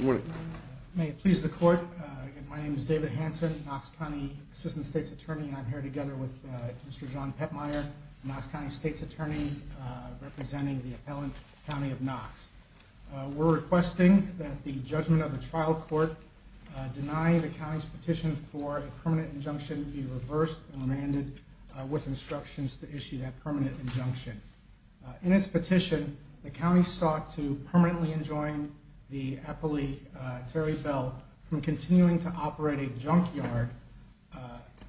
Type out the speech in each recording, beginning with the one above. Good morning. May it please the court. My name is David Hanson, Knox County Assistant State's Attorney, and I'm here together with Mr. John Pettmeier, Knox County State's Attorney, representing the appellant county of Knox. We're requesting that the judgment of the trial court deny the county's petition for a permanent injunction be reversed and remanded with instructions to issue that permanent injunction. In its petition, the county sought to permanently enjoin the appellee, Terry Bell, from continuing to operate a junkyard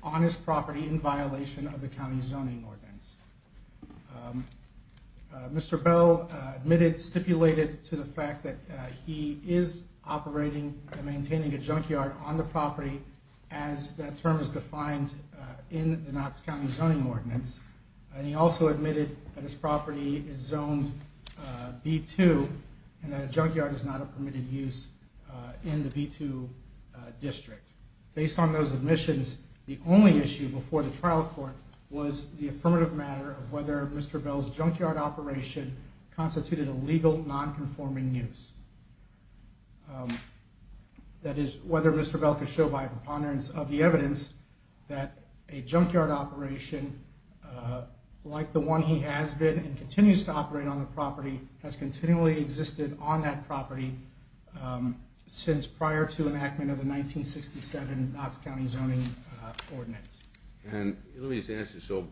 on his property in violation of the county's zoning ordinance. Mr. Bell admitted, stipulated to the fact that he is operating and maintaining a junkyard on the property as that term is defined in the Knox County zoning ordinance. And he also admitted that his property is zoned B2 and that a junkyard is not a permitted use in the B2 district. Based on those admissions, the only issue before the trial court was the affirmative matter of whether Mr. Bell's junkyard operation constituted a legal, non-conforming use. That is, whether Mr. Bell could show by preponderance of the evidence that a junkyard operation like the one he has been and continues to operate on the property has continually existed on that property since prior to enactment of the 1967 Knox County zoning ordinance. And let me just ask you, so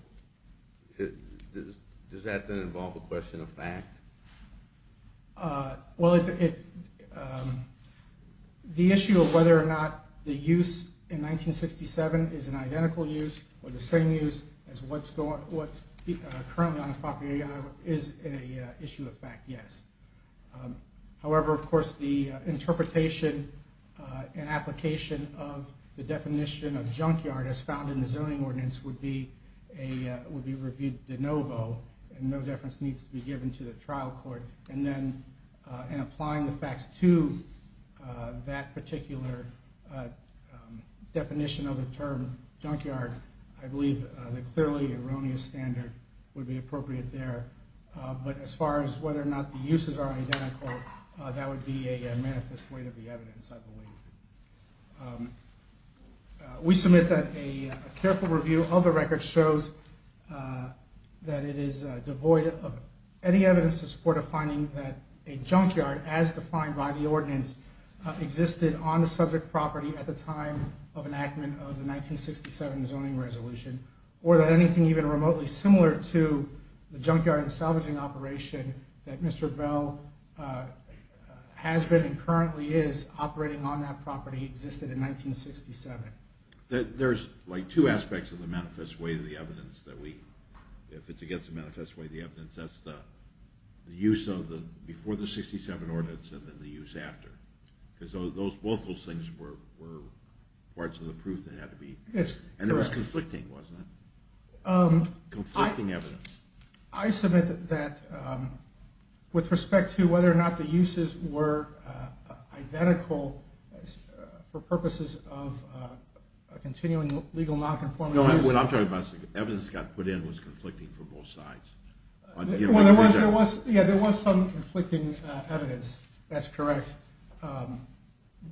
does that then involve a question of fact? Well, the issue of whether or not the use in 1967 is an identical use or the same use as what's currently on the property is an issue of fact, yes. However, of course, the interpretation and application of the definition of junkyard as found in the zoning ordinance would be reviewed de novo and no deference needs to be given to the trial court. And then in applying the facts to that particular definition of the term junkyard, I believe the clearly erroneous standard would be appropriate there. But as far as whether or not the uses are identical, that would be a manifest weight of the evidence, I believe. We submit that a careful review of the record shows that it is devoid of any evidence to support a finding that a junkyard, as defined by the ordinance, existed on the subject property at the time of enactment of the 1967 zoning resolution. Or that anything even remotely similar to the junkyard and salvaging operation that Mr. Bell has been and currently is operating on that property existed in 1967. There's like two aspects of the manifest weight of the evidence that we, if it's against the manifest weight of the evidence, that's the use of the, before the 67 ordinance and then the use after. Because both of those things were parts of the proof that had to be, and it was conflicting, wasn't it? Conflicting evidence. I submit that with respect to whether or not the uses were identical for purposes of continuing legal nonconformity. No, what I'm talking about is the evidence that got put in was conflicting for both sides. Yeah, there was some conflicting evidence, that's correct.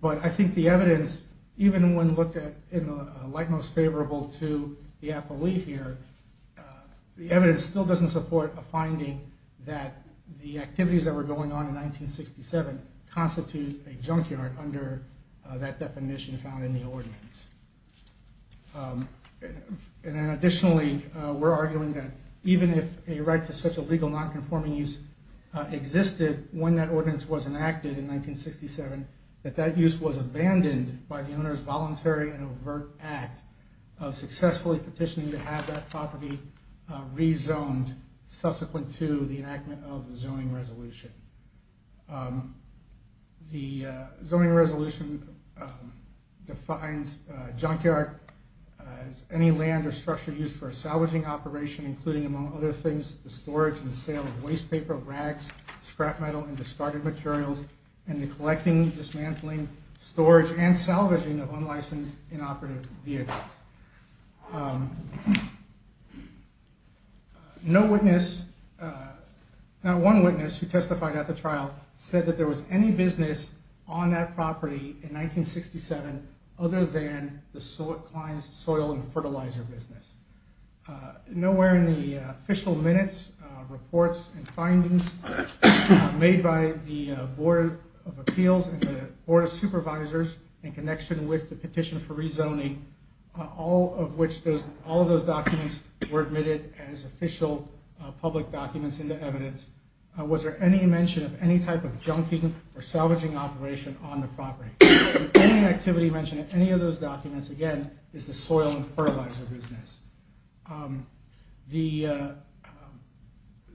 But I think the evidence, even when looked at in a light most favorable to the appellee here, the evidence still doesn't support a finding that the activities that were going on in 1967 constitute a junkyard under that definition found in the ordinance. And then additionally, we're arguing that even if a right to such a legal nonconforming use existed when that ordinance was enacted in 1967, that that use was abandoned by the owner's voluntary and overt act of successfully petitioning to have that property rezoned subsequent to the enactment of the zoning resolution. The zoning resolution defines junkyard as any land or structure used for a salvaging operation, including, among other things, the storage and sale of waste paper, rags, scrap metal, and discarded materials, and the collecting, dismantling, storage, and salvaging of unlicensed, inoperative vehicles. No witness, not one witness who testified at the trial said that there was any business on that property in 1967 other than the soil and fertilizer business. Nowhere in the official minutes, reports, and findings made by the Board of Appeals and the Board of Supervisors in connection with the petition for rezoning, all of those documents were admitted as official public documents into evidence. Was there any mention of any type of junking or salvaging operation on the property? Any activity mentioned in any of those documents, again, is the soil and fertilizer business. The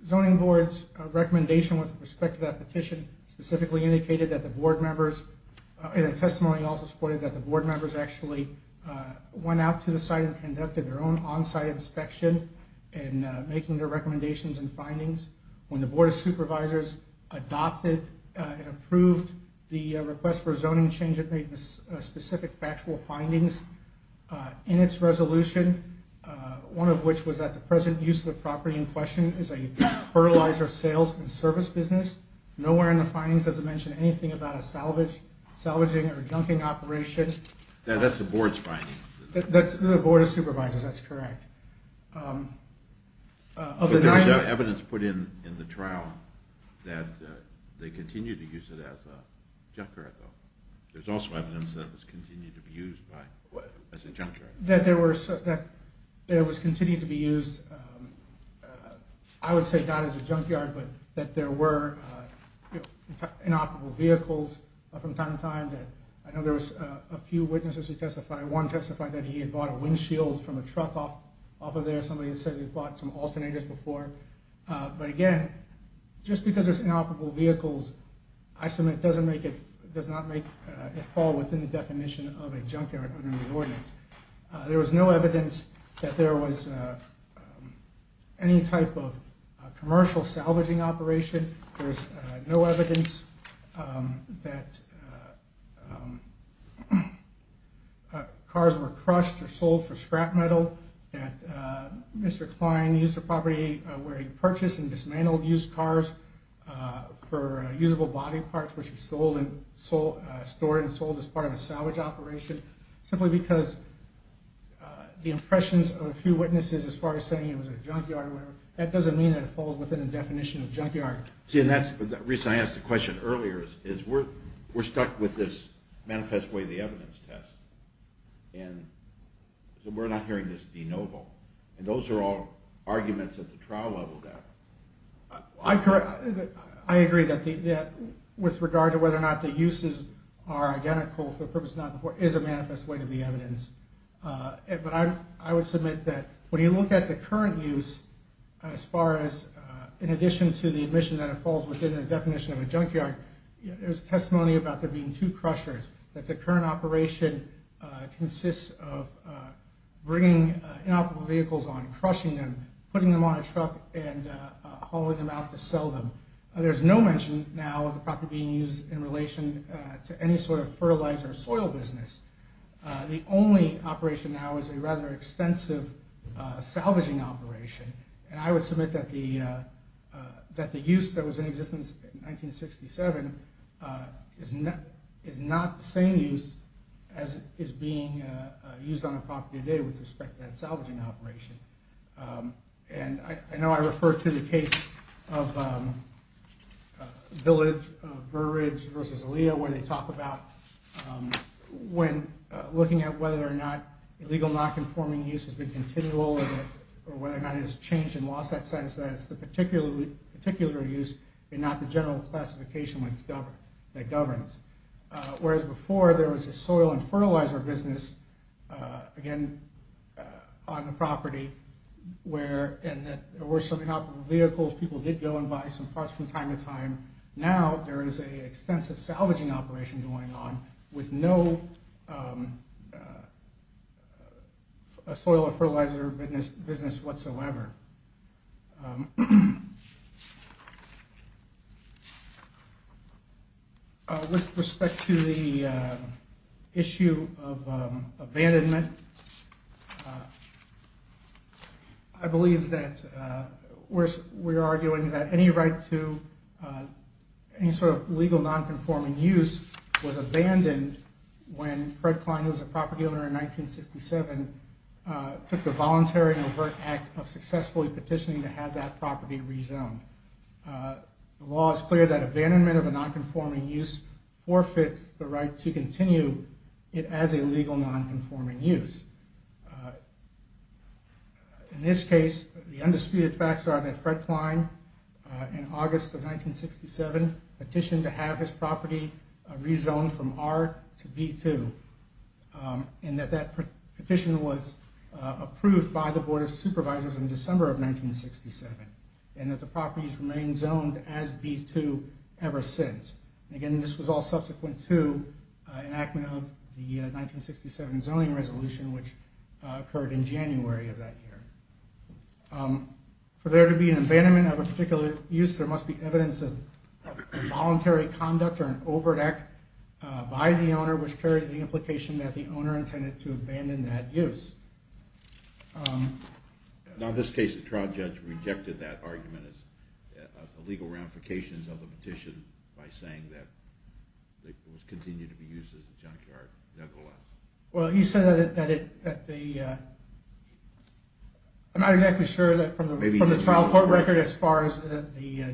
zoning board's recommendation with respect to that petition specifically indicated that the board members, in a testimony also supported that the board members actually went out to the site and conducted their own on-site inspection and making their recommendations and findings. When the Board of Supervisors adopted and approved the request for a zoning change, it made specific factual findings in its resolution, one of which was that the present use of the property in question is a fertilizer sales and service business. Nowhere in the findings does it mention anything about a salvaging or junking operation. That's the board's findings. That's the Board of Supervisors, that's correct. But there's evidence put in the trial that they continued to use it as a junkyard, though. There's also evidence that it was continued to be used as a junkyard. That it was continued to be used, I would say, not as a junkyard, but that there were inoperable vehicles from time to time. I know there was a few witnesses who testified. One testified that he had bought a windshield from a truck off of there. Somebody said he'd bought some alternators before. But again, just because there's inoperable vehicles, I submit, does not make it fall within the definition of a junkyard under the ordinance. There was no evidence that there was any type of commercial salvaging operation. There's no evidence that cars were crushed or sold for scrap metal. That Mr. Klein used the property where he purchased and dismantled used cars for usable body parts, which he stored and sold as part of a salvage operation. Simply because the impressions of a few witnesses as far as saying it was a junkyard or whatever, that doesn't mean that it falls within the definition of a junkyard. See, and that's the reason I asked the question earlier, is we're stuck with this manifest way of the evidence test. And so we're not hearing this de novo. And those are all arguments at the trial level that... I agree that with regard to whether or not the uses are identical for the purpose of not before is a manifest way of the evidence. But I would submit that when you look at the current use, as far as in addition to the admission that it falls within the definition of a junkyard, there's testimony about there being two crushers, that the current operation consists of bringing inoperable vehicles on, crushing them, putting them on a truck and hauling them out to sell them. There's no mention now of the property being used in relation to any sort of fertilizer or soil business. The only operation now is a rather extensive salvaging operation. And I would submit that the use that was in existence in 1967 is not the same use as is being used on the property today with respect to that salvaging operation. And I know I referred to the case of Village versus Aliyah where they talk about when looking at whether or not illegal non-conforming use has been continual or whether or not it has changed and lost that sense that it's the particular use and not the general classification that governs. Whereas before there was a soil and fertilizer business, again, on the property where there were some inoperable vehicles. People did go and buy some parts from time to time. Now there is an extensive salvaging operation going on with no soil or fertilizer business whatsoever. With respect to the issue of abandonment, I believe that we're arguing that any right to any sort of legal non-conforming use was abandoned when Fred Klein, who was a property owner in 1967, took the voluntary and overt act of successfully petitioning to have that property rezoned. The law is clear that abandonment of a non-conforming use forfeits the right to continue it as a legal non-conforming use. In this case, the undisputed facts are that Fred Klein, in August of 1967, petitioned to have his property rezoned from R to B2. And that that petition was approved by the Board of Supervisors in December of 1967. And that the property has remained zoned as B2 ever since. Again, this was all subsequent to enactment of the 1967 zoning resolution, which occurred in January of that year. For there to be an abandonment of a particular use, there must be evidence of involuntary conduct or an overt act by the owner, which carries the implication that the owner intended to abandon that use. Now in this case, the trial judge rejected that argument as illegal ramifications of the petition by saying that it was continued to be used as a junkyard. Well, he said that it... I'm not exactly sure from the trial court record as far as the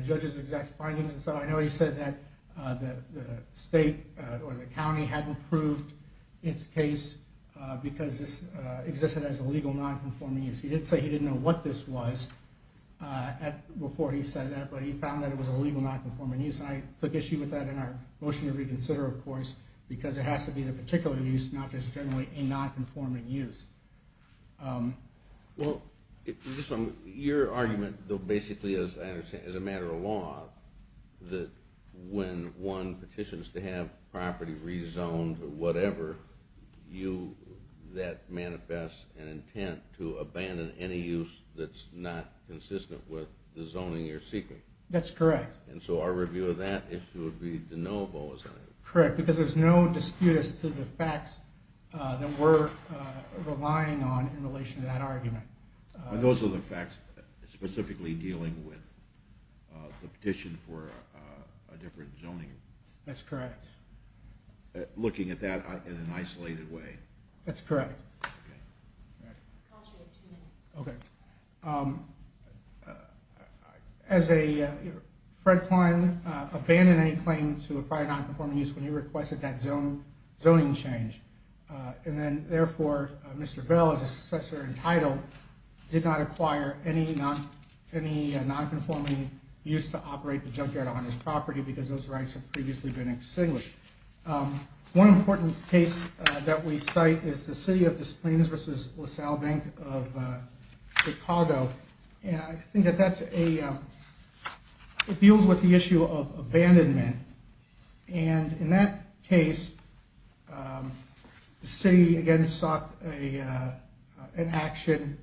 judge's exact findings. And so I know he said that the state or the county hadn't proved its case because this existed as a legal non-conforming use. He did say he didn't know what this was before he said that, but he found that it was a legal non-conforming use. And I took issue with that in our motion to reconsider, of course, because it has to be a particular use, not just generally a non-conforming use. Well, your argument, though, basically as a matter of law, that when one petitions to have property rezoned or whatever, that manifests an intent to abandon any use that's not consistent with the zoning you're seeking. That's correct. And so our review of that issue would be the no vote. Correct, because there's no dispute as to the facts that we're relying on in relation to that argument. Those are the facts specifically dealing with the petition for a different zoning. That's correct. Looking at that in an isolated way. That's correct. I'll talk to you in a few minutes. Okay. Fred Klein abandoned any claim to acquire non-conforming use when he requested that zoning change. And then, therefore, Mr. Bell, as a successor entitled, did not acquire any non-conforming use to operate the junkyard on his property because those rights had previously been extinguished. One important case that we cite is the City of Disciplines v. LaSalle Bank of Chicago. And I think that that's a – it deals with the issue of abandonment. And in that case, the city, again, sought an action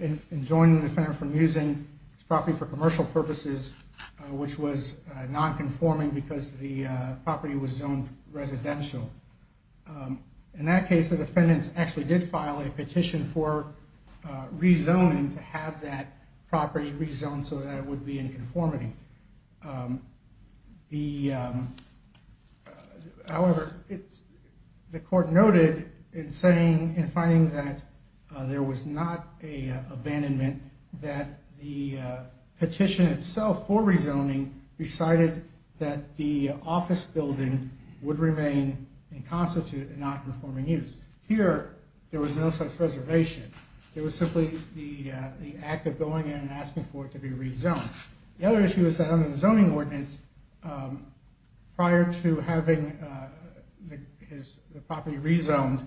in joining the defendant from using his property for commercial purposes, which was non-conforming because the property was zoned residential. In that case, the defendants actually did file a petition for rezoning to have that property rezoned so that it would be in conformity. However, the court noted in saying, in finding that there was not an abandonment, that the petition itself for rezoning decided that the office building would remain inconstitute in non-conforming use. Here, there was no such reservation. It was simply the act of going in and asking for it to be rezoned. The other issue is that under the zoning ordinance, prior to having the property rezoned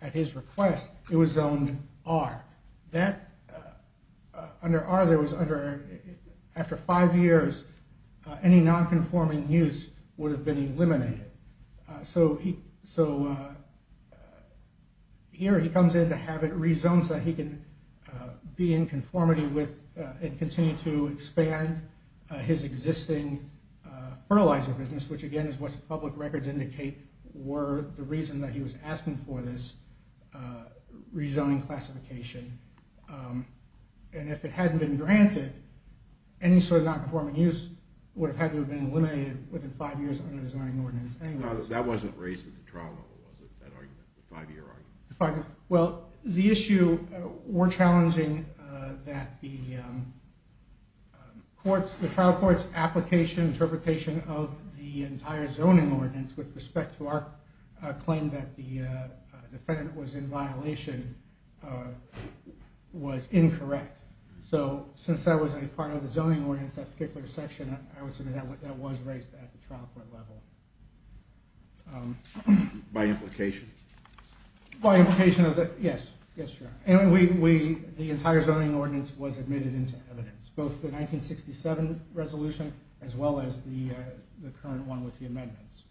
at his request, it was zoned R. Under R, there was under – after five years, any non-conforming use would have been eliminated. So here, he comes in to have it rezoned so that he can be in conformity with and continue to expand his existing fertilizer business, which again is what the public records indicate were the reason that he was asking for this rezoning classification. If it hadn't been granted, any sort of non-conforming use would have had to have been eliminated within five years under the zoning ordinance anyway. That wasn't raised at the trial level, was it, that argument, the five-year argument? Well, the issue – we're challenging that the trial court's application, interpretation of the entire zoning ordinance with respect to our claim that the defendant was in violation was incorrect. So since that was a part of the zoning ordinance, that particular section, I would say that was raised at the trial court level. By implication? By implication of the – yes, yes, sir. And we – the entire zoning ordinance was admitted into evidence, both the 1967 resolution as well as the current one with the amendments.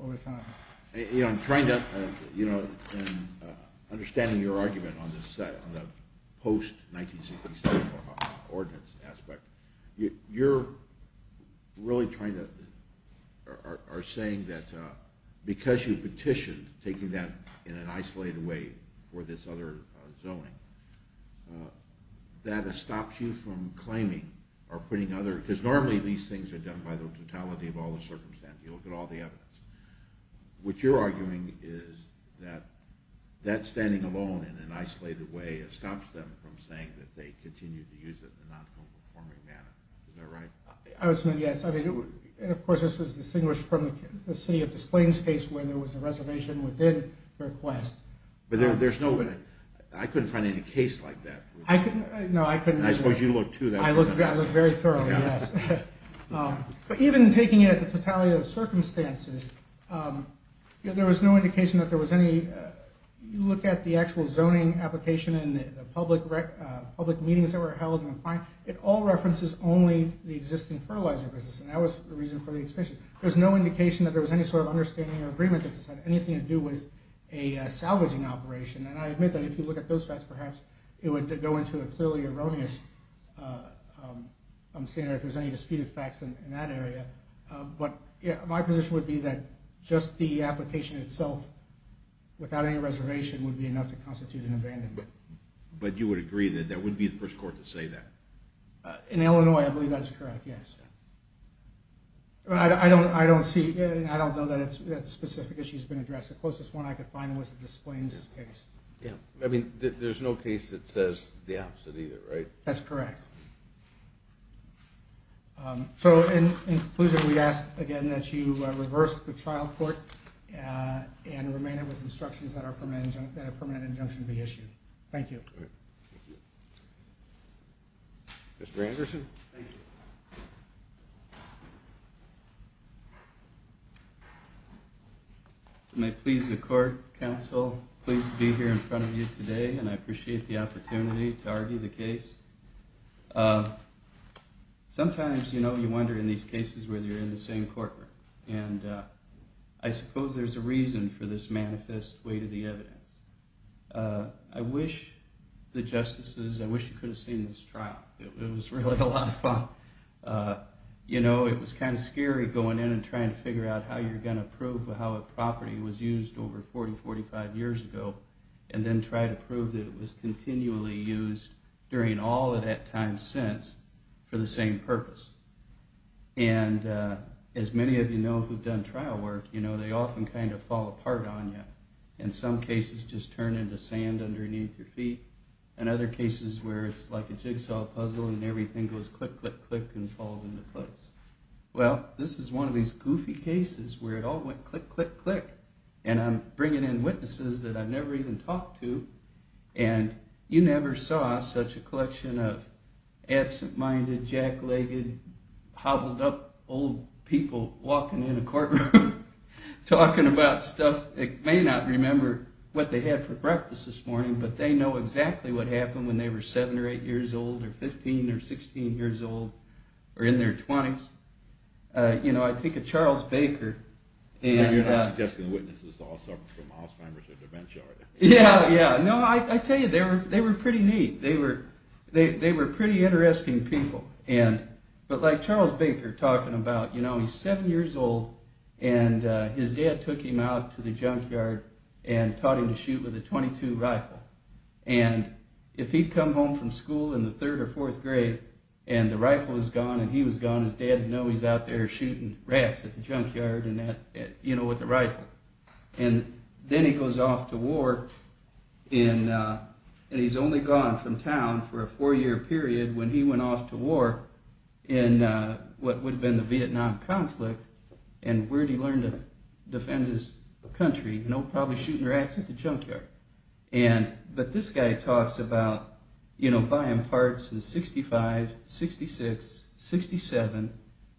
Over time. You know, I'm trying to – you know, in understanding your argument on the post-1967 ordinance aspect, you're really trying to – are saying that because you petitioned taking that in an isolated way for this other zoning, that it stops you from claiming or putting other – because normally these things are done by the totality of all the circumstances. You look at all the evidence. What you're arguing is that that standing alone in an isolated way stops them from saying that they continue to use it in a non-conforming manner. Is that right? I would say yes. I mean, of course, this was distinguished from the City of Des Plaines case where there was a reservation within the request. But there's no – I couldn't find any case like that. I couldn't – no, I couldn't. I suppose you looked, too. I looked very thoroughly, yes. But even taking it at the totality of the circumstances, there was no indication that there was any – you look at the actual zoning application and the public meetings that were held. It all references only the existing fertilizer business, and that was the reason for the extension. There was no indication that there was any sort of understanding or agreement that this had anything to do with a salvaging operation. And I admit that if you look at those facts, perhaps it would go into a clearly erroneous standard if there's any disputed facts in that area. But my position would be that just the application itself without any reservation would be enough to constitute an abandonment. But you would agree that there wouldn't be the first court to say that? In Illinois, I believe that is correct, yes. I don't see – I don't know that a specific issue has been addressed. The closest one I could find was the Displains case. Yeah. I mean, there's no case that says the opposite either, right? That's correct. So, in conclusion, we ask, again, that you reverse the trial court and remain it with instructions that a permanent injunction be issued. Thank you. Thank you. Mr. Anderson? Thank you. May it please the court, counsel, pleased to be here in front of you today, and I appreciate the opportunity to argue the case. Sometimes, you know, you wonder in these cases whether you're in the same courtroom. And I suppose there's a reason for this manifest weight of the evidence. I wish the justices – I wish you could have seen this trial. It was really a lot of fun. You know, it was kind of scary going in and trying to figure out how you're going to prove how a property was used over 40, 45 years ago and then try to prove that it was continually used during all of that time since for the same purpose. And as many of you know who've done trial work, you know, they often kind of fall apart on you. In some cases, just turn into sand underneath your feet. In other cases where it's like a jigsaw puzzle and everything goes click, click, click and falls into place. Well, this is one of these goofy cases where it all went click, click, click. And I'm bringing in witnesses that I've never even talked to. And you never saw such a collection of absent-minded, jack-legged, hobbled-up old people walking in a courtroom talking about stuff they may not remember what they had for breakfast this morning, but they know exactly what happened when they were 7 or 8 years old or 15 or 16 years old or in their 20s. You know, I think of Charles Baker. You're not suggesting the witnesses all suffered from Alzheimer's or dementia, are you? Yeah, yeah. No, I tell you, they were pretty neat. They were pretty interesting people. But like Charles Baker talking about, you know, he's 7 years old and his dad took him out to the junkyard and taught him to shoot with a .22 rifle. And if he'd come home from school in the third or fourth grade and the rifle was gone and he was gone, his dad would know he was out there shooting rats at the junkyard with the rifle. And then he goes off to war and he's only gone from town for a four-year period. When he went off to war in what would have been the Vietnam conflict, and where'd he learn to defend his country? Probably shooting rats at the junkyard. But this guy talks about buying parts in 65, 66, 67,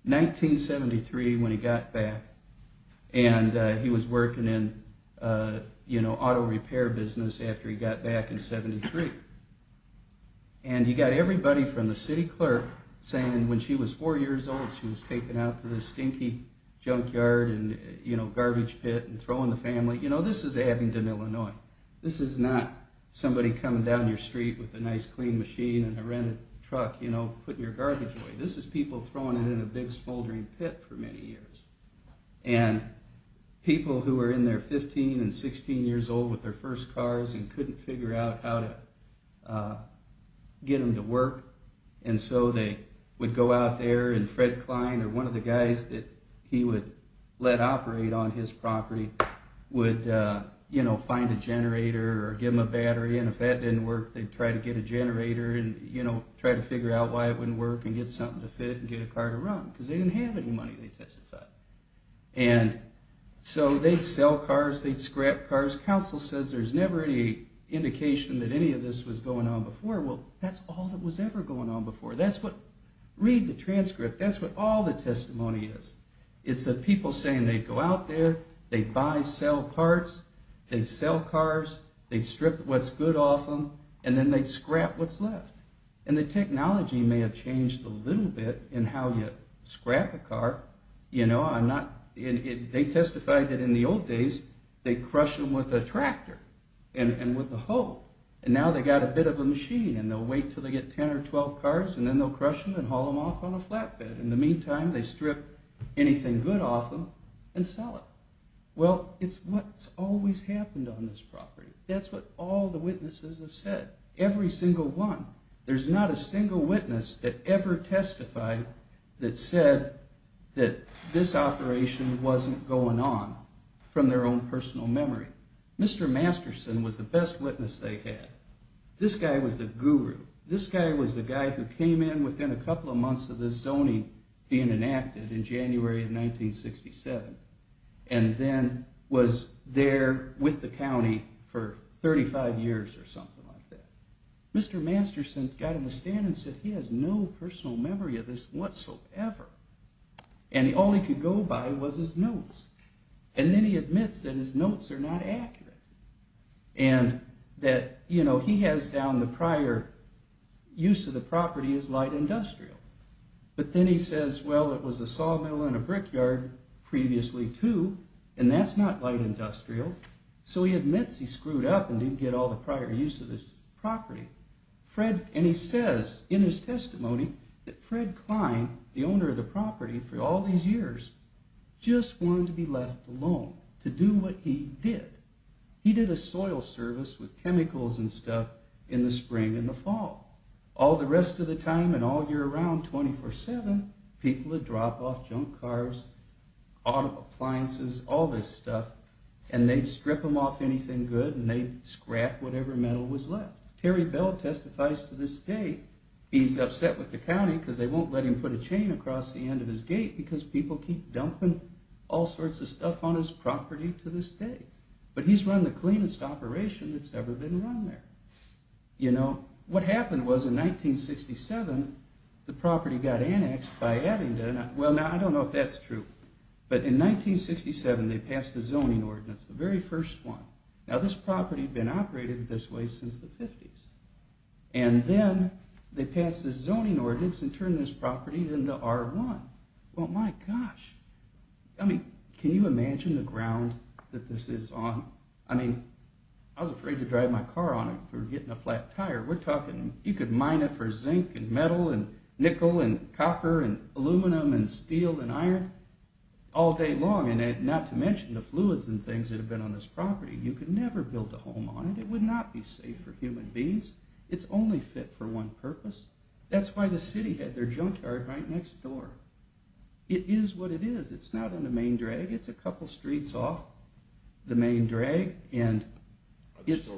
1973 when he got back. And he was working in auto repair business after he got back in 73. And he got everybody from the city clerk saying when she was four years old she was taken out to this stinky junkyard and garbage pit and throwing the family. You know, this is Abingdon, Illinois. This is not somebody coming down your street with a nice clean machine and a rented truck, you know, putting your garbage away. This is people throwing it in a big smoldering pit for many years. And people who were in their 15 and 16 years old with their first cars and couldn't figure out how to get them to work. And so they would go out there and Fred Klein, or one of the guys that he would let operate on his property, would, you know, find a generator or give them a battery. And if that didn't work, they'd try to get a generator and, you know, try to figure out why it wouldn't work and get something to fit and get a car to run. Because they didn't have any money, they testified. And so they'd sell cars, they'd scrap cars. Council says there's never any indication that any of this was going on before. Well, that's all that was ever going on before. Read the transcript. That's what all the testimony is. It's the people saying they'd go out there, they'd buy sell parts, they'd sell cars, they'd strip what's good off them, and then they'd scrap what's left. And the technology may have changed a little bit in how you scrap a car. They testified that in the old days, they'd crush them with a tractor and with a hoe. And now they've got a bit of a machine and they'll wait until they get 10 or 12 cars and then they'll crush them and haul them off on a flatbed. In the meantime, they strip anything good off them and sell it. Well, it's what's always happened on this property. That's what all the witnesses have said. Every single one. There's not a single witness that ever testified that said that this operation wasn't going on from their own personal memory. Mr. Masterson was the best witness they had. This guy was the guru. This guy was the guy who came in within a couple of months of this zoning being enacted in January of 1967. And then was there with the county for 35 years or something like that. Mr. Masterson got in the stand and said he has no personal memory of this whatsoever. And all he could go by was his notes. And then he admits that his notes are not accurate. And that he has down the prior use of the property as light industrial. But then he says, well, it was a sawmill and a brickyard previously, too. And that's not light industrial. So he admits he screwed up and didn't get all the prior use of this property. And he says in his testimony that Fred Klein, the owner of the property for all these years, just wanted to be left alone to do what he did. He did a soil service with chemicals and stuff in the spring and the fall. All the rest of the time and all year round, 24-7, people would drop off junk cars, auto appliances, all this stuff. And they'd strip them off anything good and they'd scrap whatever metal was left. Terry Bell testifies to this day. He's upset with the county because they won't let him put a chain across the end of his gate because people keep dumping all sorts of stuff on his property to this day. But he's run the cleanest operation that's ever been run there. You know, what happened was in 1967, the property got annexed by Abingdon. Well, now, I don't know if that's true. But in 1967, they passed a zoning ordinance, the very first one. Now, this property had been operated this way since the 50s. And then they passed this zoning ordinance and turned this property into R1. Well, my gosh. I mean, can you imagine the ground that this is on? I mean, I was afraid to drive my car on it for getting a flat tire. We're talking, you could mine it for zinc and metal and nickel and copper and aluminum and steel and iron all day long. And not to mention the fluids and things that have been on this property. You could never build a home on it. It would not be safe for human beings. It's only fit for one purpose. That's why the city had their junkyard right next door. It is what it is. It's not in the main drag. It's a couple streets off the main drag. And it's...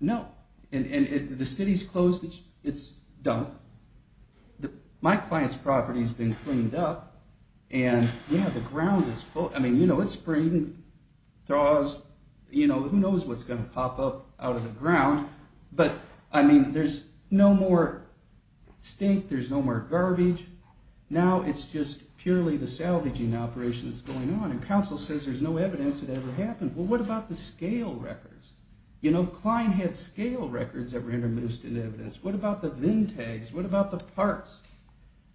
No. And the city's closed its dump. My client's property's been cleaned up. And, you know, the ground is full. I mean, you know, it's spring. It thaws. You know, who knows what's going to pop up out of the ground. But, I mean, there's no more stink. There's no more garbage. Now it's just purely the salvaging operation that's going on. And council says there's no evidence that it ever happened. Well, what about the scale records? You know, Klein had scale records that were intermixed in evidence. What about the VIN tags? What about the parts?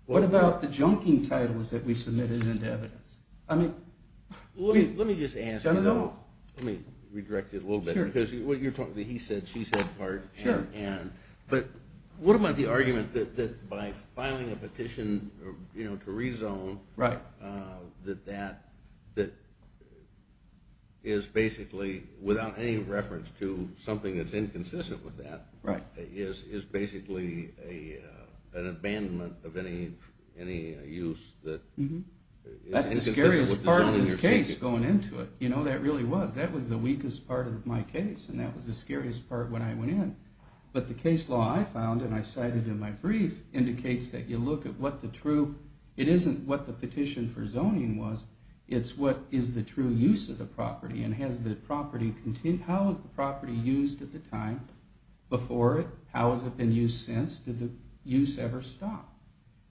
What about the junking titles that we submitted into evidence? I mean... Let me just ask you though. Let me redirect it a little bit. Because what you're talking about, he said she said part and... Sure. But what about the argument that by filing a petition to rezone... Right. That that is basically without any reference to something that's inconsistent with that... Right. Is basically an abandonment of any use that... That's the scariest part of this case going into it. You know, that really was. That was the weakest part of my case. And that was the scariest part when I went in. But the case law I found, and I cited in my brief, indicates that you look at what the true... It isn't what the petition for zoning was. It's what is the true use of the property. And has the property... How is the property used at the time before it? How has it been used since? Did the use ever stop?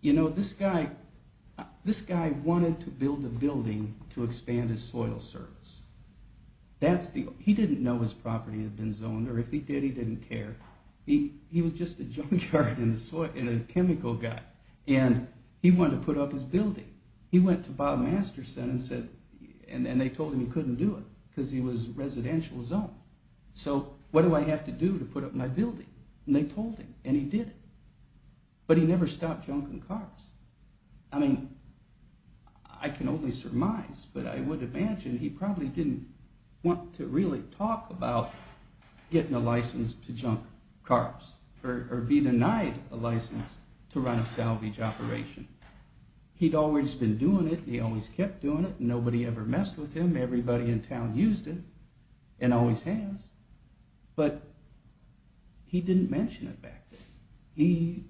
You know, this guy... This guy wanted to build a building to expand his soil service. That's the... He didn't know his property had been zoned. Or if he did, he didn't care. He was just a junkyard and a chemical guy. And he wanted to put up his building. He went to Bob Masterson and said... And they told him he couldn't do it. Because he was residential zone. So what do I have to do to put up my building? And they told him. And he did it. But he never stopped junking cars. I mean, I can only surmise. But I would imagine he probably didn't want to really talk about... Getting a license to junk cars. Or be denied a license to run a salvage operation. He'd always been doing it. He always kept doing it. Nobody ever messed with him. Everybody in town used it. And always has. But he didn't mention it back then. He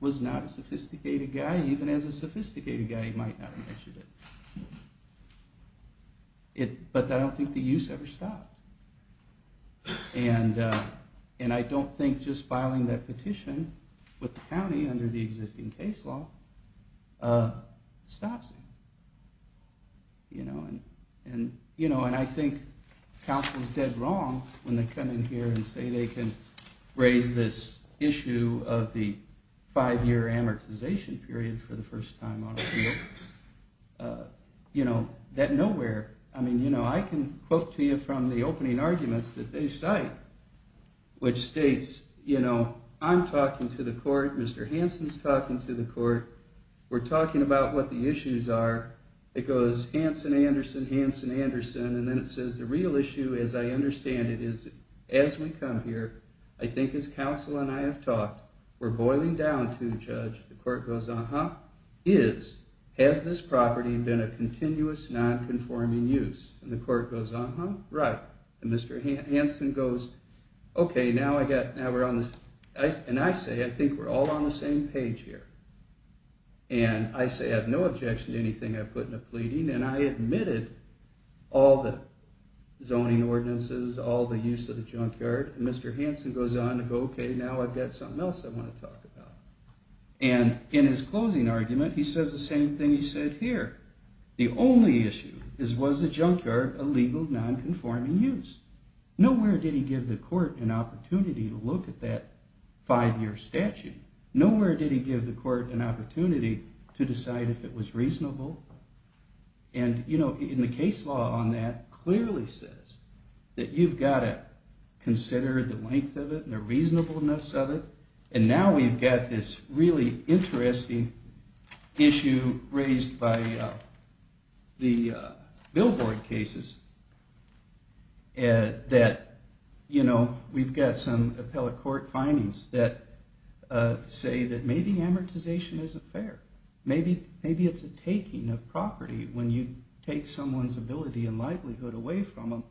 was not a sophisticated guy. Even as a sophisticated guy, he might not have mentioned it. But I don't think the use ever stopped. And I don't think just filing that petition... With the county under the existing case law... Stops him. You know? And I think counsel is dead wrong... When they come in here and say they can... Raise this issue of the... Five year amortization period for the first time on appeal. You know? That nowhere... I mean, you know, I can quote to you... From the opening arguments that they cite. Which states, you know... I'm talking to the court. Mr. Hanson's talking to the court. We're talking about what the issues are. It goes, Hanson, Anderson, Hanson, Anderson. And then it says, the real issue, as I understand it, is... As we come here... I think as counsel and I have talked... We're boiling down to, Judge... The court goes, uh-huh. Is... Has this property been a continuous non-conforming use? And the court goes, uh-huh, right. And Mr. Hanson goes... Okay, now we're on this... And I say, I think we're all on the same page here. And I say I have no objection to anything I put in a pleading. And I admitted all the zoning ordinances... All the use of the junkyard. And Mr. Hanson goes on to go, okay, now I've got something else... I want to talk about. And in his closing argument, he says the same thing he said here. The only issue is, was the junkyard a legal non-conforming use? Nowhere did he give the court an opportunity to look at that five-year statute. Nowhere did he give the court an opportunity to decide if it was reasonable. And, you know, the case law on that clearly says... That you've got to consider the length of it and the reasonableness of it. And now we've got this really interesting issue raised by the billboard cases. That, you know, we've got some appellate court findings that say that maybe amortization isn't fair. Maybe it's a taking of property when you take someone's ability and livelihood away from them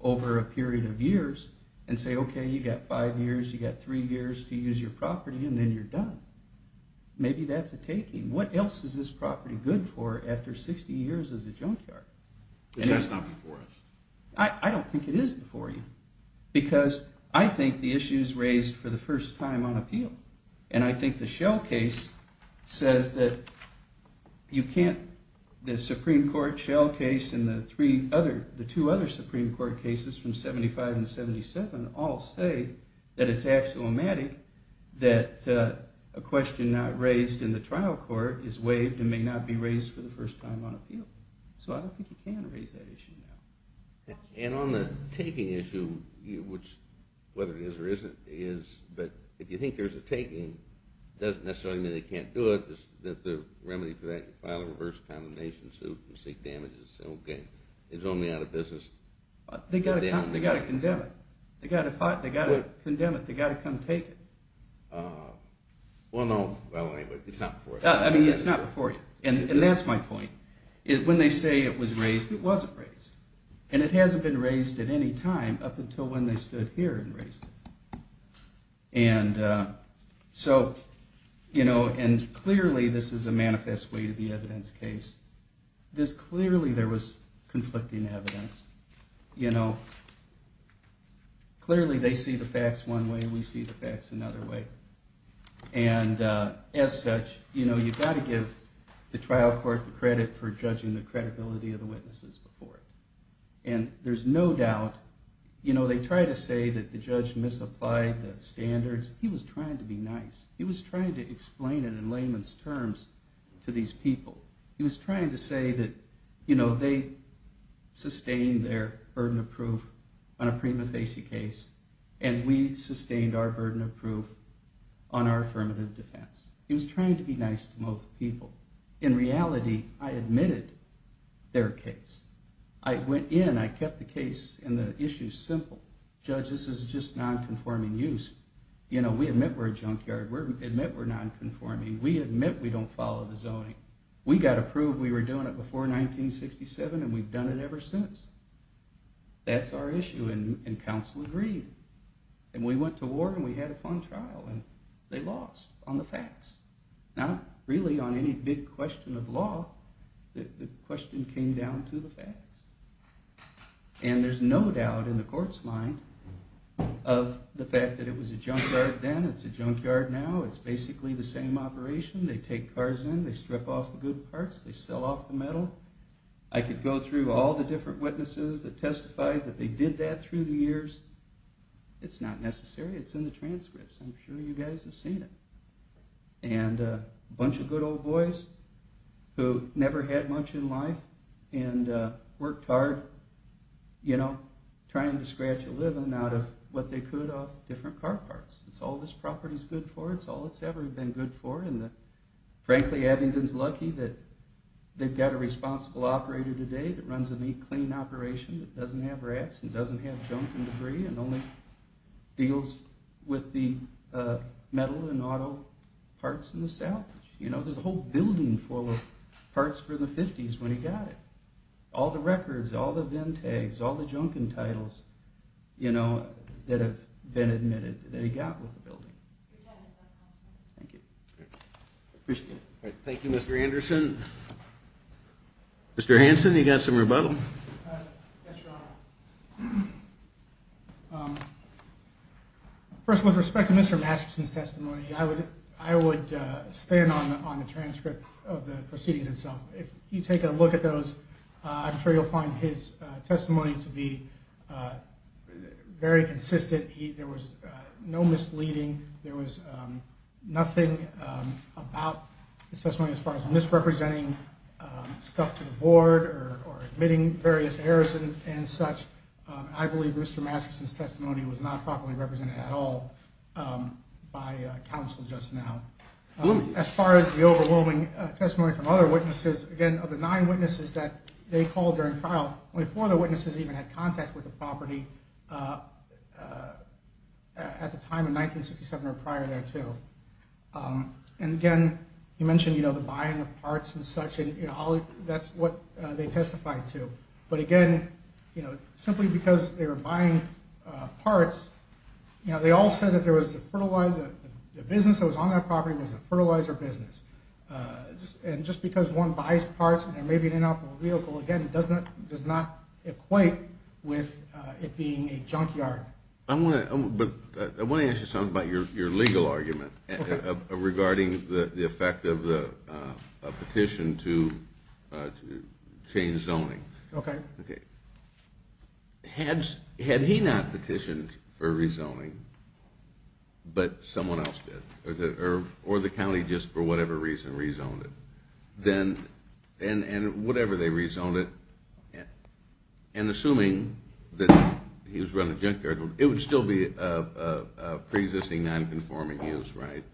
over a period of years. And say, okay, you've got five years, you've got three years to use your property, and then you're done. Maybe that's a taking. What else is this property good for after 60 years as a junkyard? But that's not before us. I don't think it is before you. Because I think the issue's raised for the first time on appeal. And I think the Shell case says that you can't... All say that it's axiomatic that a question not raised in the trial court is waived and may not be raised for the first time on appeal. So I don't think you can raise that issue now. And on the taking issue, which, whether it is or isn't, is... But if you think there's a taking, it doesn't necessarily mean they can't do it. The remedy for that is to file a reverse condemnation suit and seek damages. Okay, it's only out of business. They've got to condemn it. They've got to condemn it. They've got to come take it. Well, no. It's not before you. I mean, it's not before you. And that's my point. When they say it was raised, it wasn't raised. And it hasn't been raised at any time up until when they stood here and raised it. And so, you know, and clearly this is a manifest way to the evidence case. Clearly there was conflicting evidence. You know, clearly they see the facts one way, we see the facts another way. And as such, you know, you've got to give the trial court the credit for judging the credibility of the witnesses before. And there's no doubt, you know, they try to say that the judge misapplied the standards. He was trying to be nice. He was trying to explain it in layman's terms to these people. He was trying to say that, you know, they sustained their burden of proof on a prima facie case. And we sustained our burden of proof on our affirmative defense. He was trying to be nice to most people. In reality, I admitted their case. I went in, I kept the case and the issue simple. Judge, this is just nonconforming use. You know, we admit we're a junkyard. We admit we're nonconforming. We admit we don't follow the zoning. We got approved, we were doing it before 1967 and we've done it ever since. That's our issue and counsel agreed. And we went to war and we had a fun trial and they lost on the facts. Not really on any big question of law. The question came down to the facts. And there's no doubt in the court's mind of the fact that it was a junkyard then, it's a junkyard now. It's basically the same operation. They take cars in, they strip off the good parts, they sell off the metal. I could go through all the different witnesses that testified that they did that through the years. It's not necessary. It's in the transcripts. I'm sure you guys have seen it. And a bunch of good old boys who never had much in life and worked hard, you know, trying to scratch a living out of what they could off different car parts. It's all this property's good for. It's all it's ever been good for. And frankly, Abingdon's lucky that they've got a responsible operator today that runs a neat, clean operation that doesn't have rats and doesn't have junk and debris and only deals with the metal and auto parts in the south. You know, there's a whole building full of parts for the 50s when he got it. All the records, all the VIN tags, all the junk and titles, you know, that have been admitted that he got with the building. Thank you. Thank you, Mr. Anderson. Mr. Hanson, you got some rebuttal. Yes, Your Honor. First, with respect to Mr. Masterson's testimony, I would stand on the transcript of the proceedings itself. If you take a look at those, I'm sure you'll find his testimony to be very consistent. There was no misleading. There was nothing about his testimony as far as misrepresenting stuff to the board or admitting various errors and such. I believe Mr. Masterson's testimony was not properly represented at all by counsel just now. As far as the overwhelming testimony from other witnesses, again, of the nine witnesses that they called during trial, before the witnesses even had contact with the property, at the time in 1967 or prior there, too. And again, you mentioned, you know, the buying of parts and such, and that's what they testified to. But again, you know, simply because they were buying parts, you know, they all said that there was a fertilizer, the business that was on that property was a fertilizer business. And just because one buys parts and there may be an inoperable vehicle, again, does not equate with it being a junkyard. I want to ask you something about your legal argument regarding the effect of a petition to change zoning. Okay. Had he not petitioned for rezoning, but someone else did, or the county just for whatever reason rezoned it, and whatever they rezoned it, and assuming that he was running a junkyard, it would still be a pre-existing non-conforming use, right?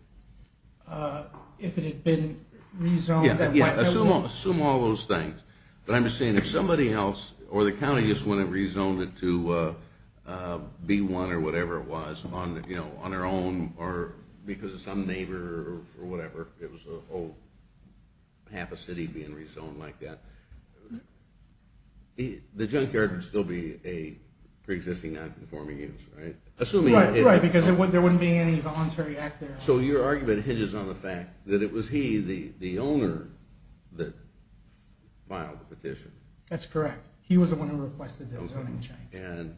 If it had been rezoned? Yeah, assume all those things. But I'm just saying if somebody else, or the county just went and rezoned it to B1 or whatever it was, on their own, or because of some neighbor, or whatever, it was a whole half a city being rezoned like that, the junkyard would still be a pre-existing non-conforming use, right? Right, because there wouldn't be any voluntary act there. So your argument hinges on the fact that it was he, the owner, that filed the petition. That's correct. He was the one who requested the zoning change.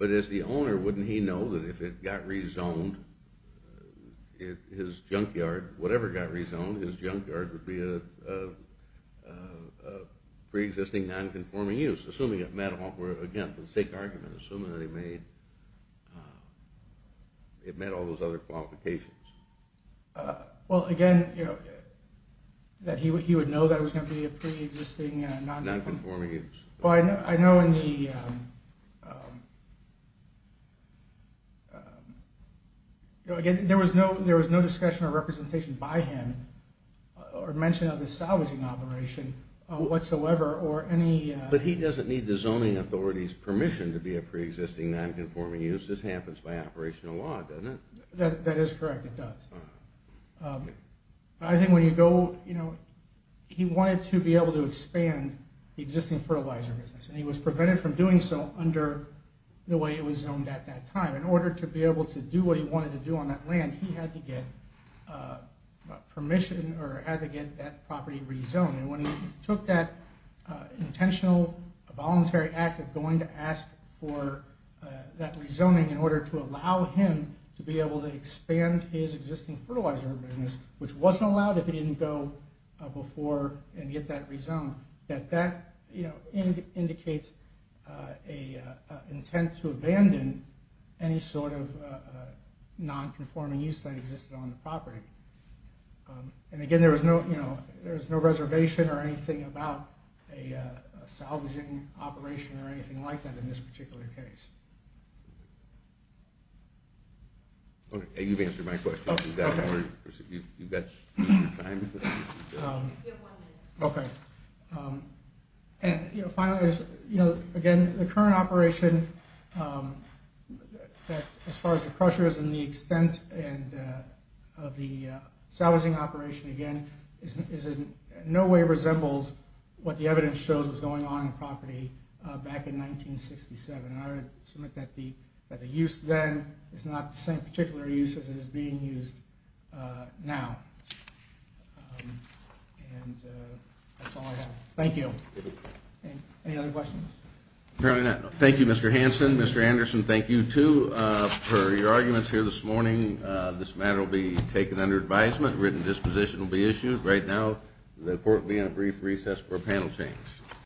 But as the owner, wouldn't he know that if it got rezoned, his junkyard, whatever got rezoned, his junkyard would be a pre-existing non-conforming use, assuming it met all, again, the stake argument, assuming that it met all those other qualifications. Well, again, he would know that it was going to be a pre-existing non-conforming use. Well, I know in the, again, there was no discussion or representation by him or mention of the salvaging operation whatsoever, or any... But he doesn't need the zoning authority's permission to be a pre-existing non-conforming use. This happens by operational law, doesn't it? That is correct, it does. I think when you go, you know, he wanted to be able to expand the existing fertilizer business, and he was prevented from doing so under the way it was zoned at that time. In order to be able to do what he wanted to do on that land, he had to get permission, or had to get that property rezoned. And when he took that intentional voluntary act of going to ask for that rezoning in order to allow him to be able to expand his existing fertilizer business, which wasn't allowed if he didn't go before and get that rezoned, that indicates an intent to abandon any sort of non-conforming use that existed on the property. And again, there was no reservation or anything about a salvaging operation or anything like that in this particular case. Okay, you've answered my question. You've got time? You have one minute. Okay. And finally, again, the current operation, as far as the pressures and the extent of the salvaging operation, again, in no way resembles what the evidence shows was going on in the property back in 1967. And I would submit that the use then is not the same particular use as it is being used now. And that's all I have. Thank you. Any other questions? Thank you, Mr. Hanson. Mr. Anderson, thank you, too. Per your arguments here this morning, this matter will be taken under advisement. A written disposition will be issued. Right now, the court will be on a brief recess for a panel change.